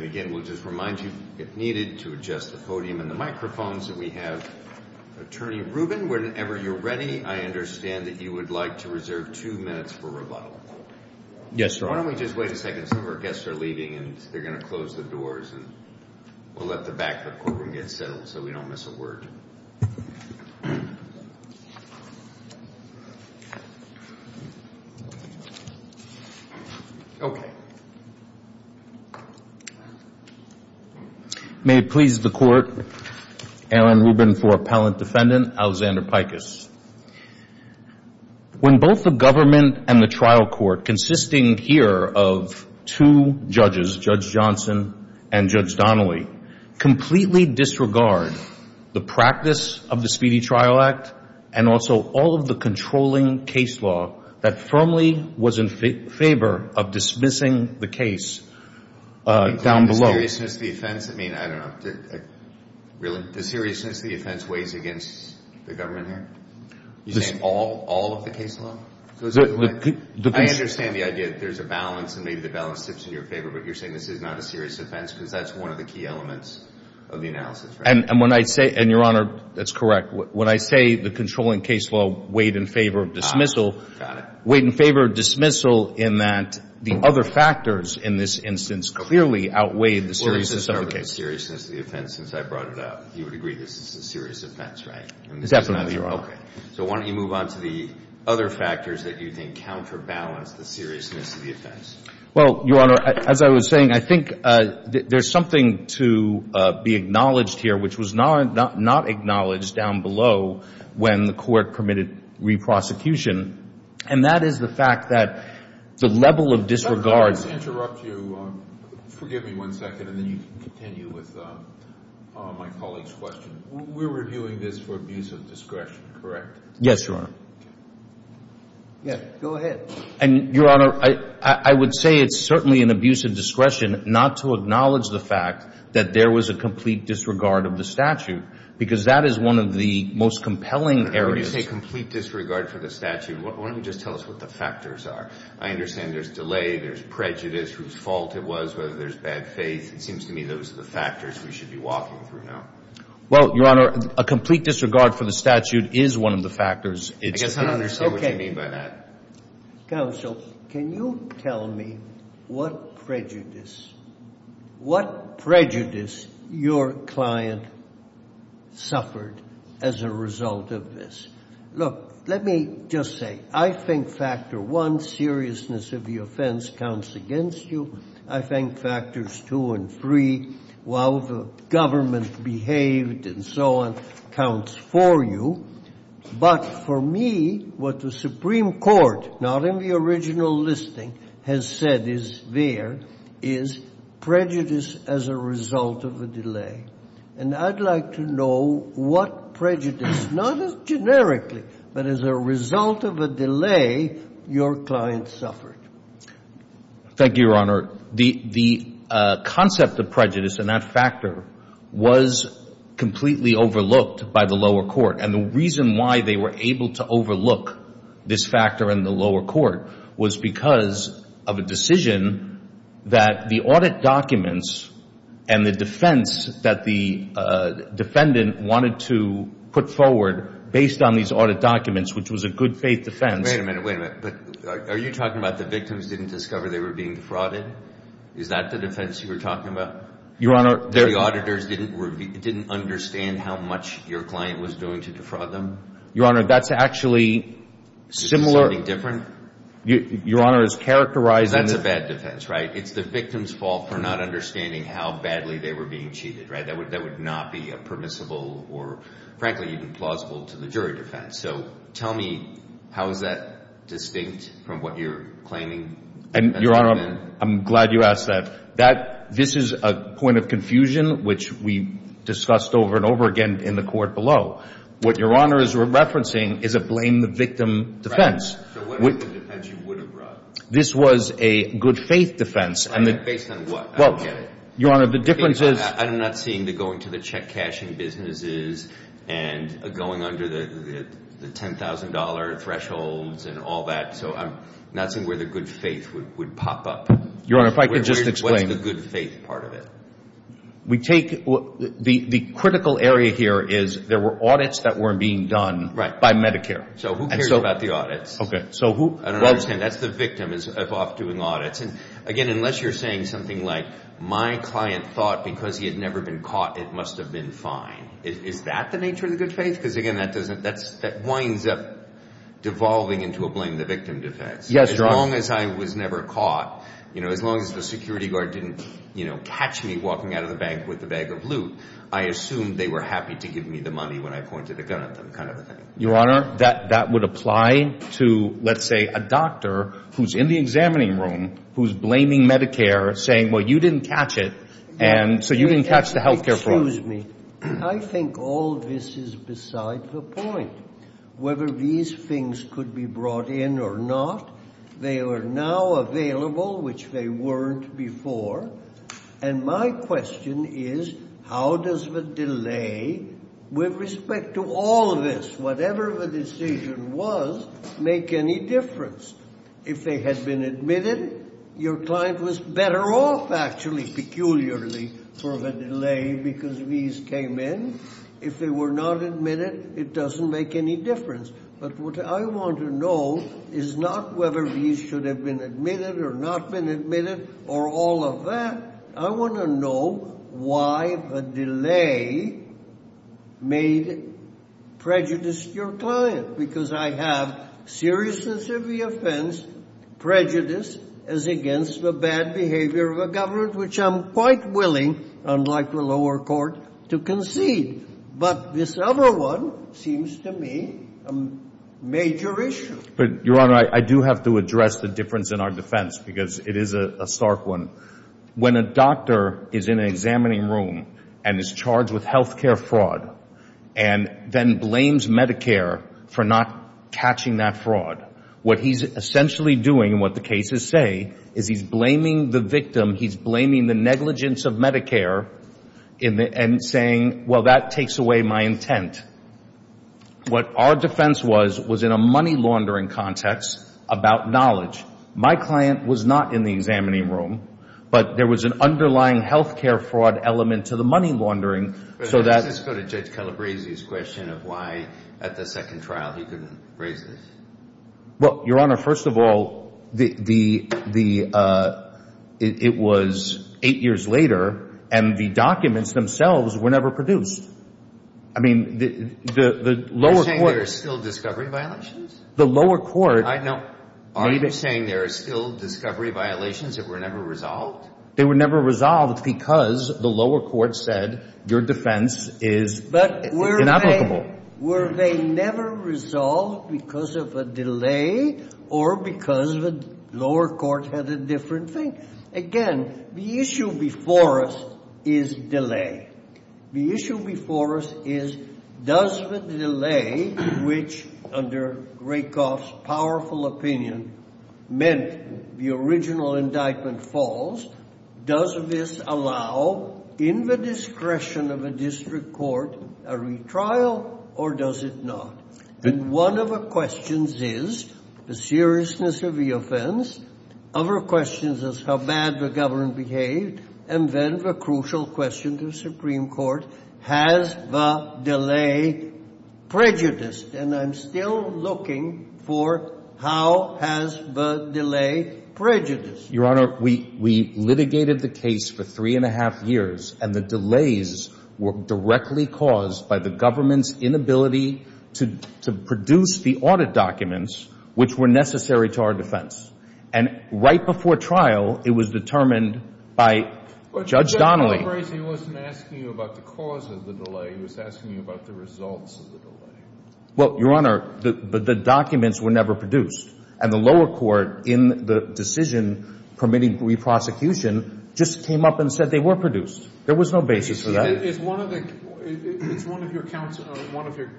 Again, we'll just remind you, if needed, to adjust the podium and the microphones that we have. Attorney Rubin, whenever you're ready, I understand that you would like to reserve two minutes for rebuttal. Yes, sir. Why don't we just wait a second? Some of our guests are leaving, and they're going to close the doors, and we'll let the back of the courtroom get settled so we don't miss a word. May it please the Court, Aaron Rubin for Appellant Defendant Alexander Pikus. When both the government and the trial court, consisting here of two judges, Judge Johnson and Judge Donnelly, completely disregard the practice of the Speedy Trial Act, and also all of the controlling case law that firmly was in favor of dismissing the case down below. Including the seriousness of the offense? I mean, I don't know. Really? The seriousness of the offense weighs against the government here? You're saying all of the case law? I understand the idea that there's a balance, and maybe the balance sits in your favor, but you're saying this is not a serious offense because that's one of the key elements of the analysis, right? And when I say, and, Your Honor, that's correct. When I say the controlling case law weighed in favor of dismissal, weighed in favor of dismissal in that the other factors in this instance clearly outweigh the seriousness of the case. Well, Your Honor, as I was saying, I think there's something to be acknowledged here which was not acknowledged down below when the Court permitted re-prosecution, and that is the fact that the level of disregard. Let me just interrupt you. Forgive me one second, and then you can continue. with my colleague's question. We're reviewing this for abuse of discretion, correct? Yes, Your Honor. Go ahead. And, Your Honor, I would say it's certainly an abuse of discretion not to acknowledge the fact that there was a complete disregard of the statute because that is one of the most compelling areas. When you say complete disregard for the statute, why don't you just tell us what the factors are? I understand there's delay, there's prejudice, whose fault it was, whether there's bad faith. It seems to me those are the factors we should be walking through now. Well, Your Honor, a complete disregard for the statute is one of the factors. I guess I don't understand what you mean by that. Counsel, can you tell me what prejudice, what prejudice your client suffered as a result of this? Look, let me just say, I think factor one, seriousness of the offense, counts against you. I think factors two and three, while the government behaved and so on, counts for you. But for me, what the Supreme Court, not in the original listing, has said is there, is prejudice as a result of a delay. And I'd like to know what prejudice, not as generically, but as a result of a delay, your client suffered. Thank you, Your Honor. The concept of prejudice and that factor was completely overlooked by the lower court. And the reason why they were able to overlook this factor in the lower court was because of a decision that the audit documents and the defense that the defendant wanted to put forward based on these audit documents, which was a good faith defense. Wait a minute, wait a minute. Are you talking about the victims didn't discover they were being defrauded? Is that the defense you were talking about? Your Honor, they're... The auditors didn't understand how much your client was doing to defraud them? Your Honor, that's actually similar... Is it something different? Your Honor is characterizing... That's a bad defense, right? It's the victim's fault for not understanding how badly they were being cheated, right? That would not be permissible or frankly even plausible to the jury defense. So tell me, how is that distinct from what you're claiming? Your Honor, I'm glad you asked that. This is a point of confusion which we discussed over and over again in the court below. What Your Honor is referencing is a blame the victim defense. So what is the defense you would have brought? This was a good faith defense. Based on what? I don't get it. Your Honor, the difference is... I'm not seeing the going to the check cashing businesses and going under the $10,000 thresholds and all that. So I'm not seeing where the good faith would pop up. Your Honor, if I could just explain... What's the good faith part of it? We take... The critical area here is there were audits that were being done by Medicare. So who cares about the audits? I don't understand. That's the victim of off doing audits. Again, unless you're saying something like, my client thought because he had never been caught, it must have been fine. Is that the nature of the good faith? Because again, that winds up devolving into a blame the victim defense. As long as I was never caught, as long as the security guard didn't catch me walking out of the bank with a bag of loot, I assumed they were happy to give me the money when I pointed a gun at them kind of a thing. Your Honor, that would apply to, let's say, a doctor who's in the examining room, who's blaming Medicare, saying, well, you didn't catch it, and so you didn't catch the health care fraud. Excuse me. I think all this is beside the point. Whether these things could be brought in or not, they are now available, which they weren't before. And my question is, how does the delay, with respect to all of this, whatever the decision was, make any difference? If they had been admitted, your client was better off, actually, peculiarly, for the delay because these came in. If they were not admitted, it doesn't make any difference. But what I want to know is not whether these should have been admitted, or not been admitted, or all of that. I want to know why the delay made prejudice to your client, because I have seriousness of the offense, prejudice as against the bad behavior of a governor, which I'm quite willing, unlike the lower court, to concede. But this other one seems to me a major issue. Your Honor, I do have to address the difference in our defense because it is a stark one. When a doctor is in an examining room and is charged with health care fraud and then blames Medicare for not catching that fraud, what he's essentially doing, what the cases say, is he's blaming the victim, he's blaming the negligence of Medicare and saying, well, that takes away my intent. What our defense was, was in a money laundering context about knowledge. My client was not in the examining room, but there was an underlying health care fraud element to the money laundering. Let's go to Judge Calabresi's question of why, at the second trial, he couldn't raise this. Well, Your Honor, first of all, it was eight years later, and the documents themselves were never produced. I mean, the lower court... You're saying there's still discovery violations? The lower court... Are you saying there's still discovery violations that were never resolved? They were never resolved because the lower court said your defense is inapplicable. Were they never resolved because of a delay or because the lower court had a different thing? Again, the issue before us is delay. The issue before us is, does the delay, which, under Rakoff's powerful opinion, meant the original indictment false, does this allow, in the discretion of a district court, a retrial, or does it not? And one of the questions is the seriousness of the offense. Other questions is how bad the government behaved. And then the crucial question to the Supreme Court, has the delay prejudiced? And I'm still looking for, how has the delay prejudiced? Your Honor, we litigated the case for three and a half years, and the delays were directly caused by the government's inability to produce the audit documents, which were necessary to our defense. And right before trial, it was determined by Judge Donnelly... He was asking you about the results of the delay. Well, Your Honor, the documents were never produced. And the lower court, in the decision permitting re-prosecution, just came up and said they were produced. There was no basis for that. It's one of your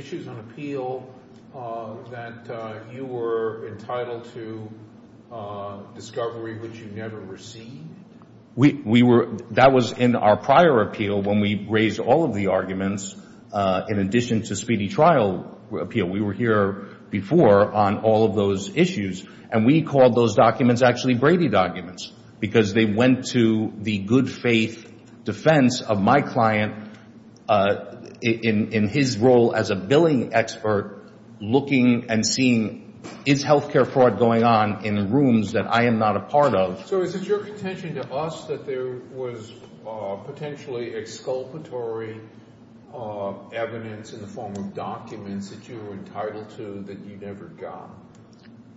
issues on appeal that you were entitled to discovery, which you never received? That was in our prior appeal when we raised all of the arguments, in addition to speedy trial appeal. We were here before on all of those issues. And we called those documents actually Brady documents, because they went to the good-faith defense of my client in his role as a billing expert, looking and seeing, is healthcare fraud going on in rooms that I am not a part of? So is it your contention to us that there was potentially exculpatory evidence in the form of documents that you were entitled to that you never got?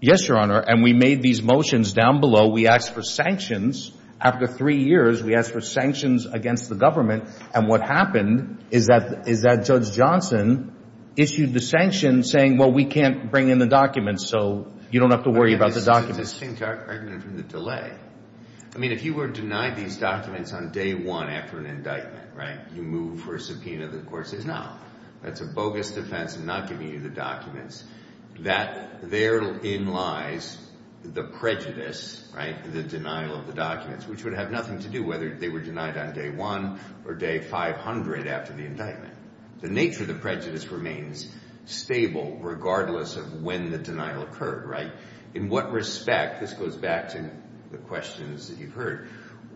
Yes, Your Honor. And we made these motions down below. We asked for sanctions. After three years, we asked for sanctions against the government. And what happened is that Judge Johnson issued the sanction, saying, well, we can't bring in the documents, so you don't have to worry about the documents. That's a distinct argument from the delay. I mean, if you were denied these documents on day one after an indictment, you move for a subpoena, the court says, no, that's a bogus defense in not giving you the documents, that therein lies the prejudice, the denial of the documents, which would have nothing to do whether they were denied on day one or day 500 after the indictment. The nature of the prejudice remains stable regardless of when the denial occurred, right? In what respect, this goes back to the questions that you've heard,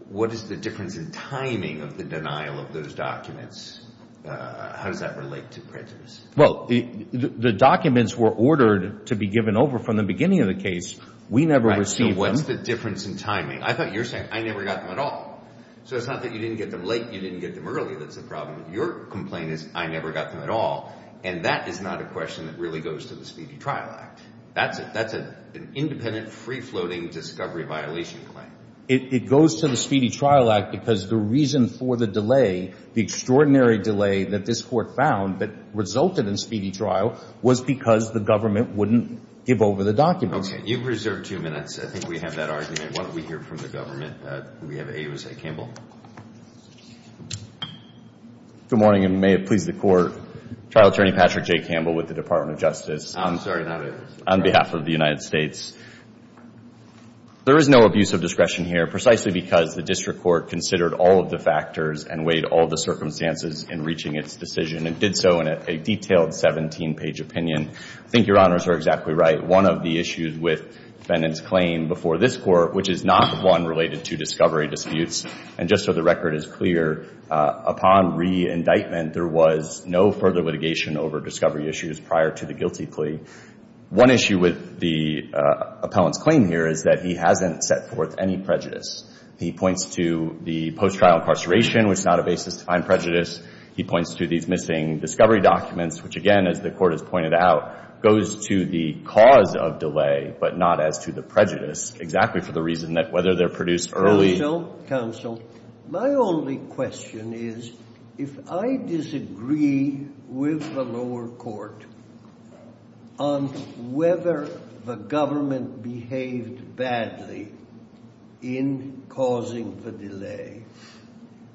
what is the difference in timing of the denial of those documents? How does that relate to prejudice? Well, the documents were ordered to be given over from the beginning of the case. We never received them. And what's the difference in timing? I thought you were saying, I never got them at all. So it's not that you didn't get them late, you didn't get them early that's the problem. Your complaint is, I never got them at all. And that is not a question that really goes to the Speedy Trial Act. That's it. That's an independent, free-floating, discovery violation claim. It goes to the Speedy Trial Act because the reason for the delay, the extraordinary delay that this court found that resulted in Speedy Trial was because the government wouldn't give over the documents. You've reserved two minutes. I think we have that argument. Why don't we hear it from the government? We have Ayoze Campbell. Good morning, and may it please the Court. Trial Attorney Patrick J. Campbell with the Department of Justice. On behalf of the United States, there is no abuse of discretion here precisely because the District Court considered all of the factors and weighed all the circumstances in reaching its decision and did so in a detailed 17-page opinion. I think Your Honors are exactly right. One of the issues with the defendant's claim before this court, which is not one related to discovery disputes, and just so the record is clear, upon re-indictment there was no further litigation over discovery issues prior to the guilty plea. One issue with the appellant's claim here is that he hasn't set forth any prejudice. He points to the post-trial incarceration, which is not a basis to find prejudice. He points to these missing discovery documents, which again, as the Court has pointed out, goes to the cause of delay, but not as to the prejudice, exactly for the reason that whether they're produced early... My only question is, if I disagree with the lower court on whether the government behaved badly in causing the delay,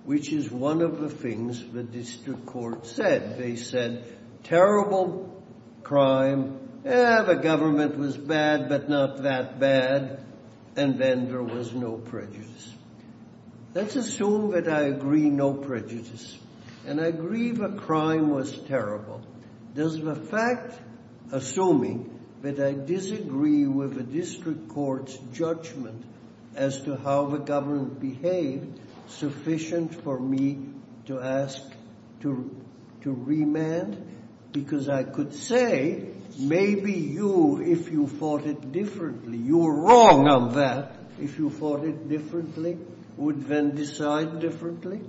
which is one of the things the District Court said. They said, terrible crime, eh, the government was bad, but not that bad, and then there was no prejudice. Let's assume that I agree, no prejudice, and I agree the crime was terrible. Does the fact, assuming that I disagree with the District Court's judgment as to how the government behaved, sufficient for me to ask to remand? Because I could say, maybe you, if you thought it differently, you were wrong on that. If you thought it differently, would then decide differently?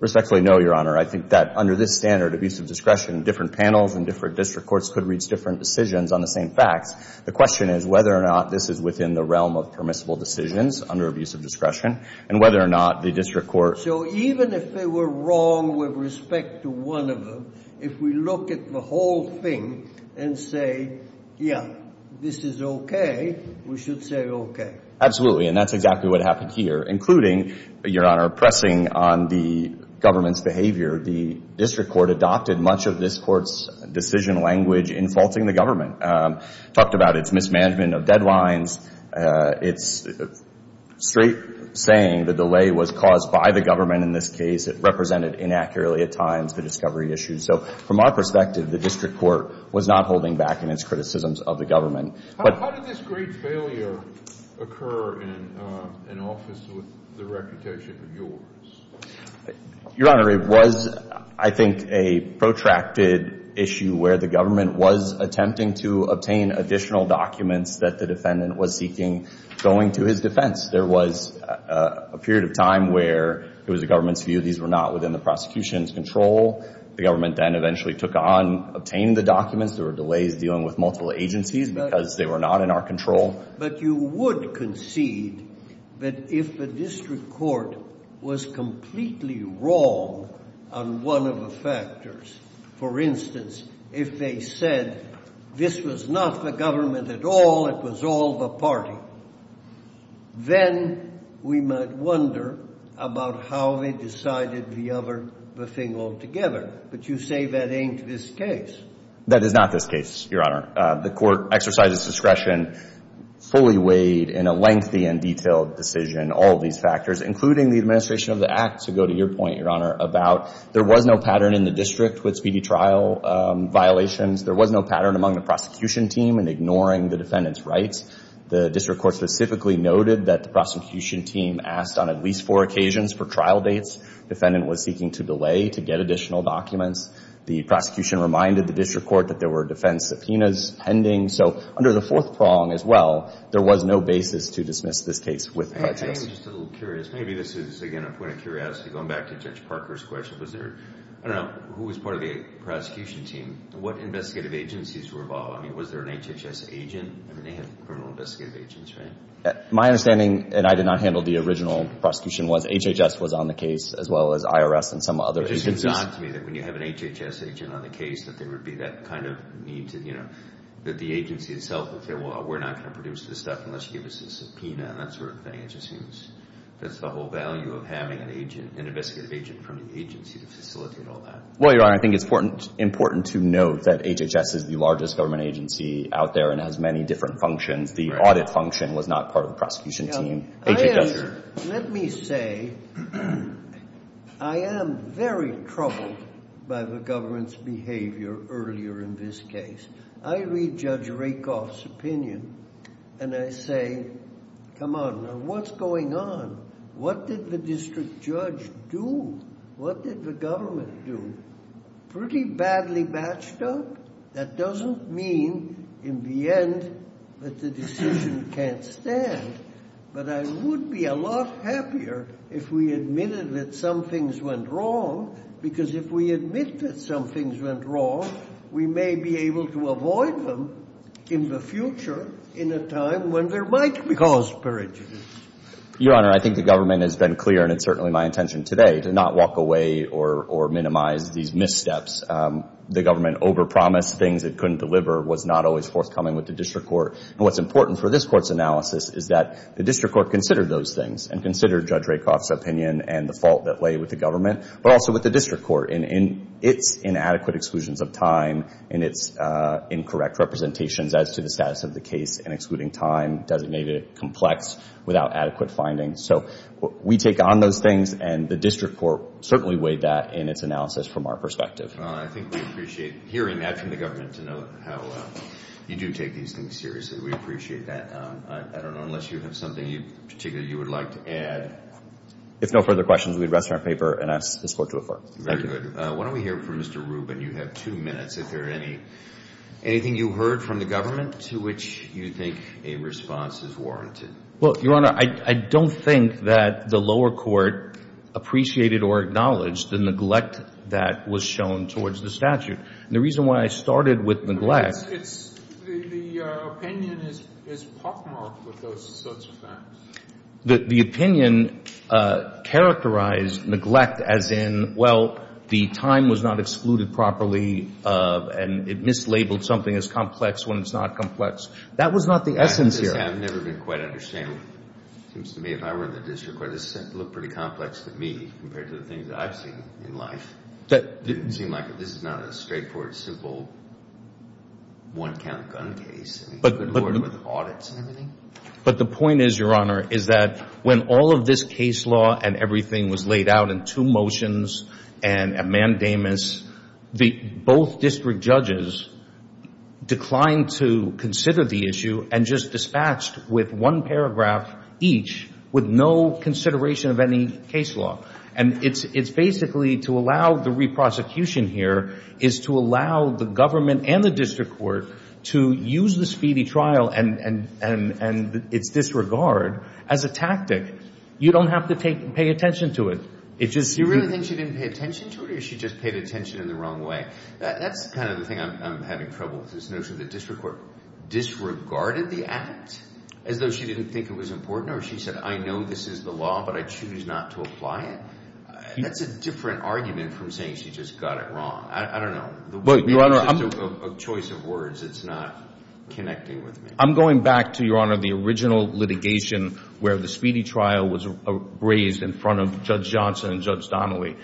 Respectfully, no, Your Honor. I think that under this standard of use of discretion, different panels and different District Courts could reach different decisions on the same facts. The question is whether or not this is within the realm of permissible decisions under abuse of discretion, and whether or not the District Court... So even if they were wrong with respect to one of them, if we look at the whole thing and say, yeah, this is okay, we should say okay. Absolutely, and that's exactly what happened here. Including, Your Honor, pressing on the government's behavior, the District Court adopted much of this Court's decision language in faulting the government. Talked about its mismanagement of deadlines, its straight saying the delay was caused by the government in this case, it represented inaccurately at times the discovery issues. So from our perspective, the District Court was not holding back in its criticisms of the government. How did this great failure occur in an office with the reputation of yours? Your Honor, it was, I think, a protracted issue where the government was attempting to obtain additional documents that the defendant was seeking going to his defense. There was a period of time where it was the government's view these were not within the prosecution's control. The government then eventually took on obtaining the documents. There were delays dealing with multiple agencies because they were not in our control. But you would concede that if the District Court was completely wrong on one of the factors, for instance, if they said this was not the government at all, it was all the party, then we might wonder about how they decided the other thing altogether. But you say that ain't this case. That is not this case, Your Honor. The court exercised its discretion fully weighed in a lengthy and detailed decision all of these factors, including the administration of the act, to go to your point, Your Honor, about there was no pattern in the district with speedy trial violations. There was no pattern among the prosecution team in ignoring the defendant's rights. The District Court specifically noted that the prosecution team asked on at least four occasions for trial dates. The defendant was seeking to delay to get additional documents. The prosecution reminded the District Court that there were defense subpoenas pending. So under the fourth prong as well, there was no basis to dismiss this case with prejudice. I am just a little curious. Maybe this is, again, a point of curiosity going back to Judge Parker's question. Was there, I don't know, who was part of the prosecution team? What investigative agencies were involved? I mean, was there an HHS agent? I mean, they have criminal investigative agents, right? My understanding, and I did not handle the original prosecution, was HHS was on the case as well as IRS and some other agencies. It seems odd to me that when you have an HHS agent on the case that there would be that kind of need to, you know, that the agency itself would say, well, we're not going to produce this stuff unless you give us a subpoena and that sort of thing. It just seems that's the whole value of having an agent, an investigative agent from the agency to facilitate all that. Well, Your Honor, I think it's important to note that HHS is the largest government agency out there and has many different functions. The audit function was not part of the prosecution team. Let me say, I am very troubled by the government's behavior earlier in this case. I read Judge Rakoff's opinion and I say, come on, what's going on? What did the district judge do? What did the government do? Pretty badly matched up? That doesn't mean in the end that the decision can't stand. But I would be a lot happier if we admitted that some things went wrong because if we admit that some things went wrong, we may be able to avoid them in the future in a time when there might be cause for it. Your Honor, I think the government has been clear and it's certainly my intention today to not walk away or minimize these missteps. The government overpromised things it couldn't deliver was not always forthcoming with the district court. And what's important for this court's analysis is that the district court considered those things and considered Judge Rakoff's opinion and the fault that lay with the government, but also with the district court in its inadequate exclusions of time and its incorrect representations as to the status of the case and excluding time, designated it complex without adequate findings. So we take on those things and the district court certainly weighed that in its analysis from our perspective. Your Honor, I think we appreciate hearing that from the government to know how you do take these things seriously. We appreciate that. I don't know, unless you have something particularly you would like to add. If no further questions, we'd rest our paper and ask this court to refer. Very good. Why don't we hear from Mr. Rubin? You have two minutes if there are any. Anything you heard from the government to which you think a response is warranted? Well, Your Honor, I don't think that the lower court appreciated or acknowledged the neglect that was shown towards the statute. And the reason why I started with neglect It's, the opinion is pockmarked with those sorts of facts. The opinion characterized neglect as in, well, the time was not excluded properly and it mislabeled something as complex when it's not complex. That was not the essence here. I've never been quite understanding. It seems to me if I were in the district court, this would look pretty complex to me compared to the things that I've seen in life. It didn't seem like it. This is not a straightforward, simple one count gun case. Good Lord with audits and everything. But the point is, Your Honor, is that when all of this case law and everything was laid out in two motions and a mandamus both district judges declined to consider the issue and just dispatched with one paragraph each with no consideration of any case law. And it's basically to allow the re-prosecution here is to allow the government and the district court to use the speedy trial and its disregard as a tactic. You don't have to pay attention to it. You really think she didn't pay attention to it or she just paid attention in the wrong way? That's kind of the thing I'm having trouble with. This notion that district court disregarded the act as though she didn't think it was important or she said, I know this is the law, but I choose not to apply it. That's a different argument from saying she just got it wrong. I don't know. A choice of words that's not connecting with me. I'm going back to the original litigation where the speedy trial was raised in front of Judge Johnson and Judge Donnelly.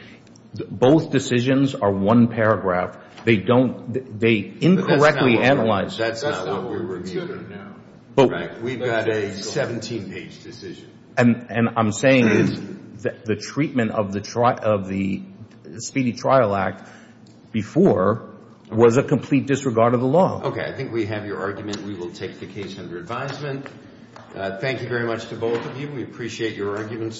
Both decisions are one paragraph. They incorrectly analyze That's not what we're considering now. We've got a 17 page decision. And I'm saying the treatment of the speedy trial act before was a complete disregard of the law. I think we have your argument. We will take the case under advisement. Thank you very much to both of you. We appreciate your arguments.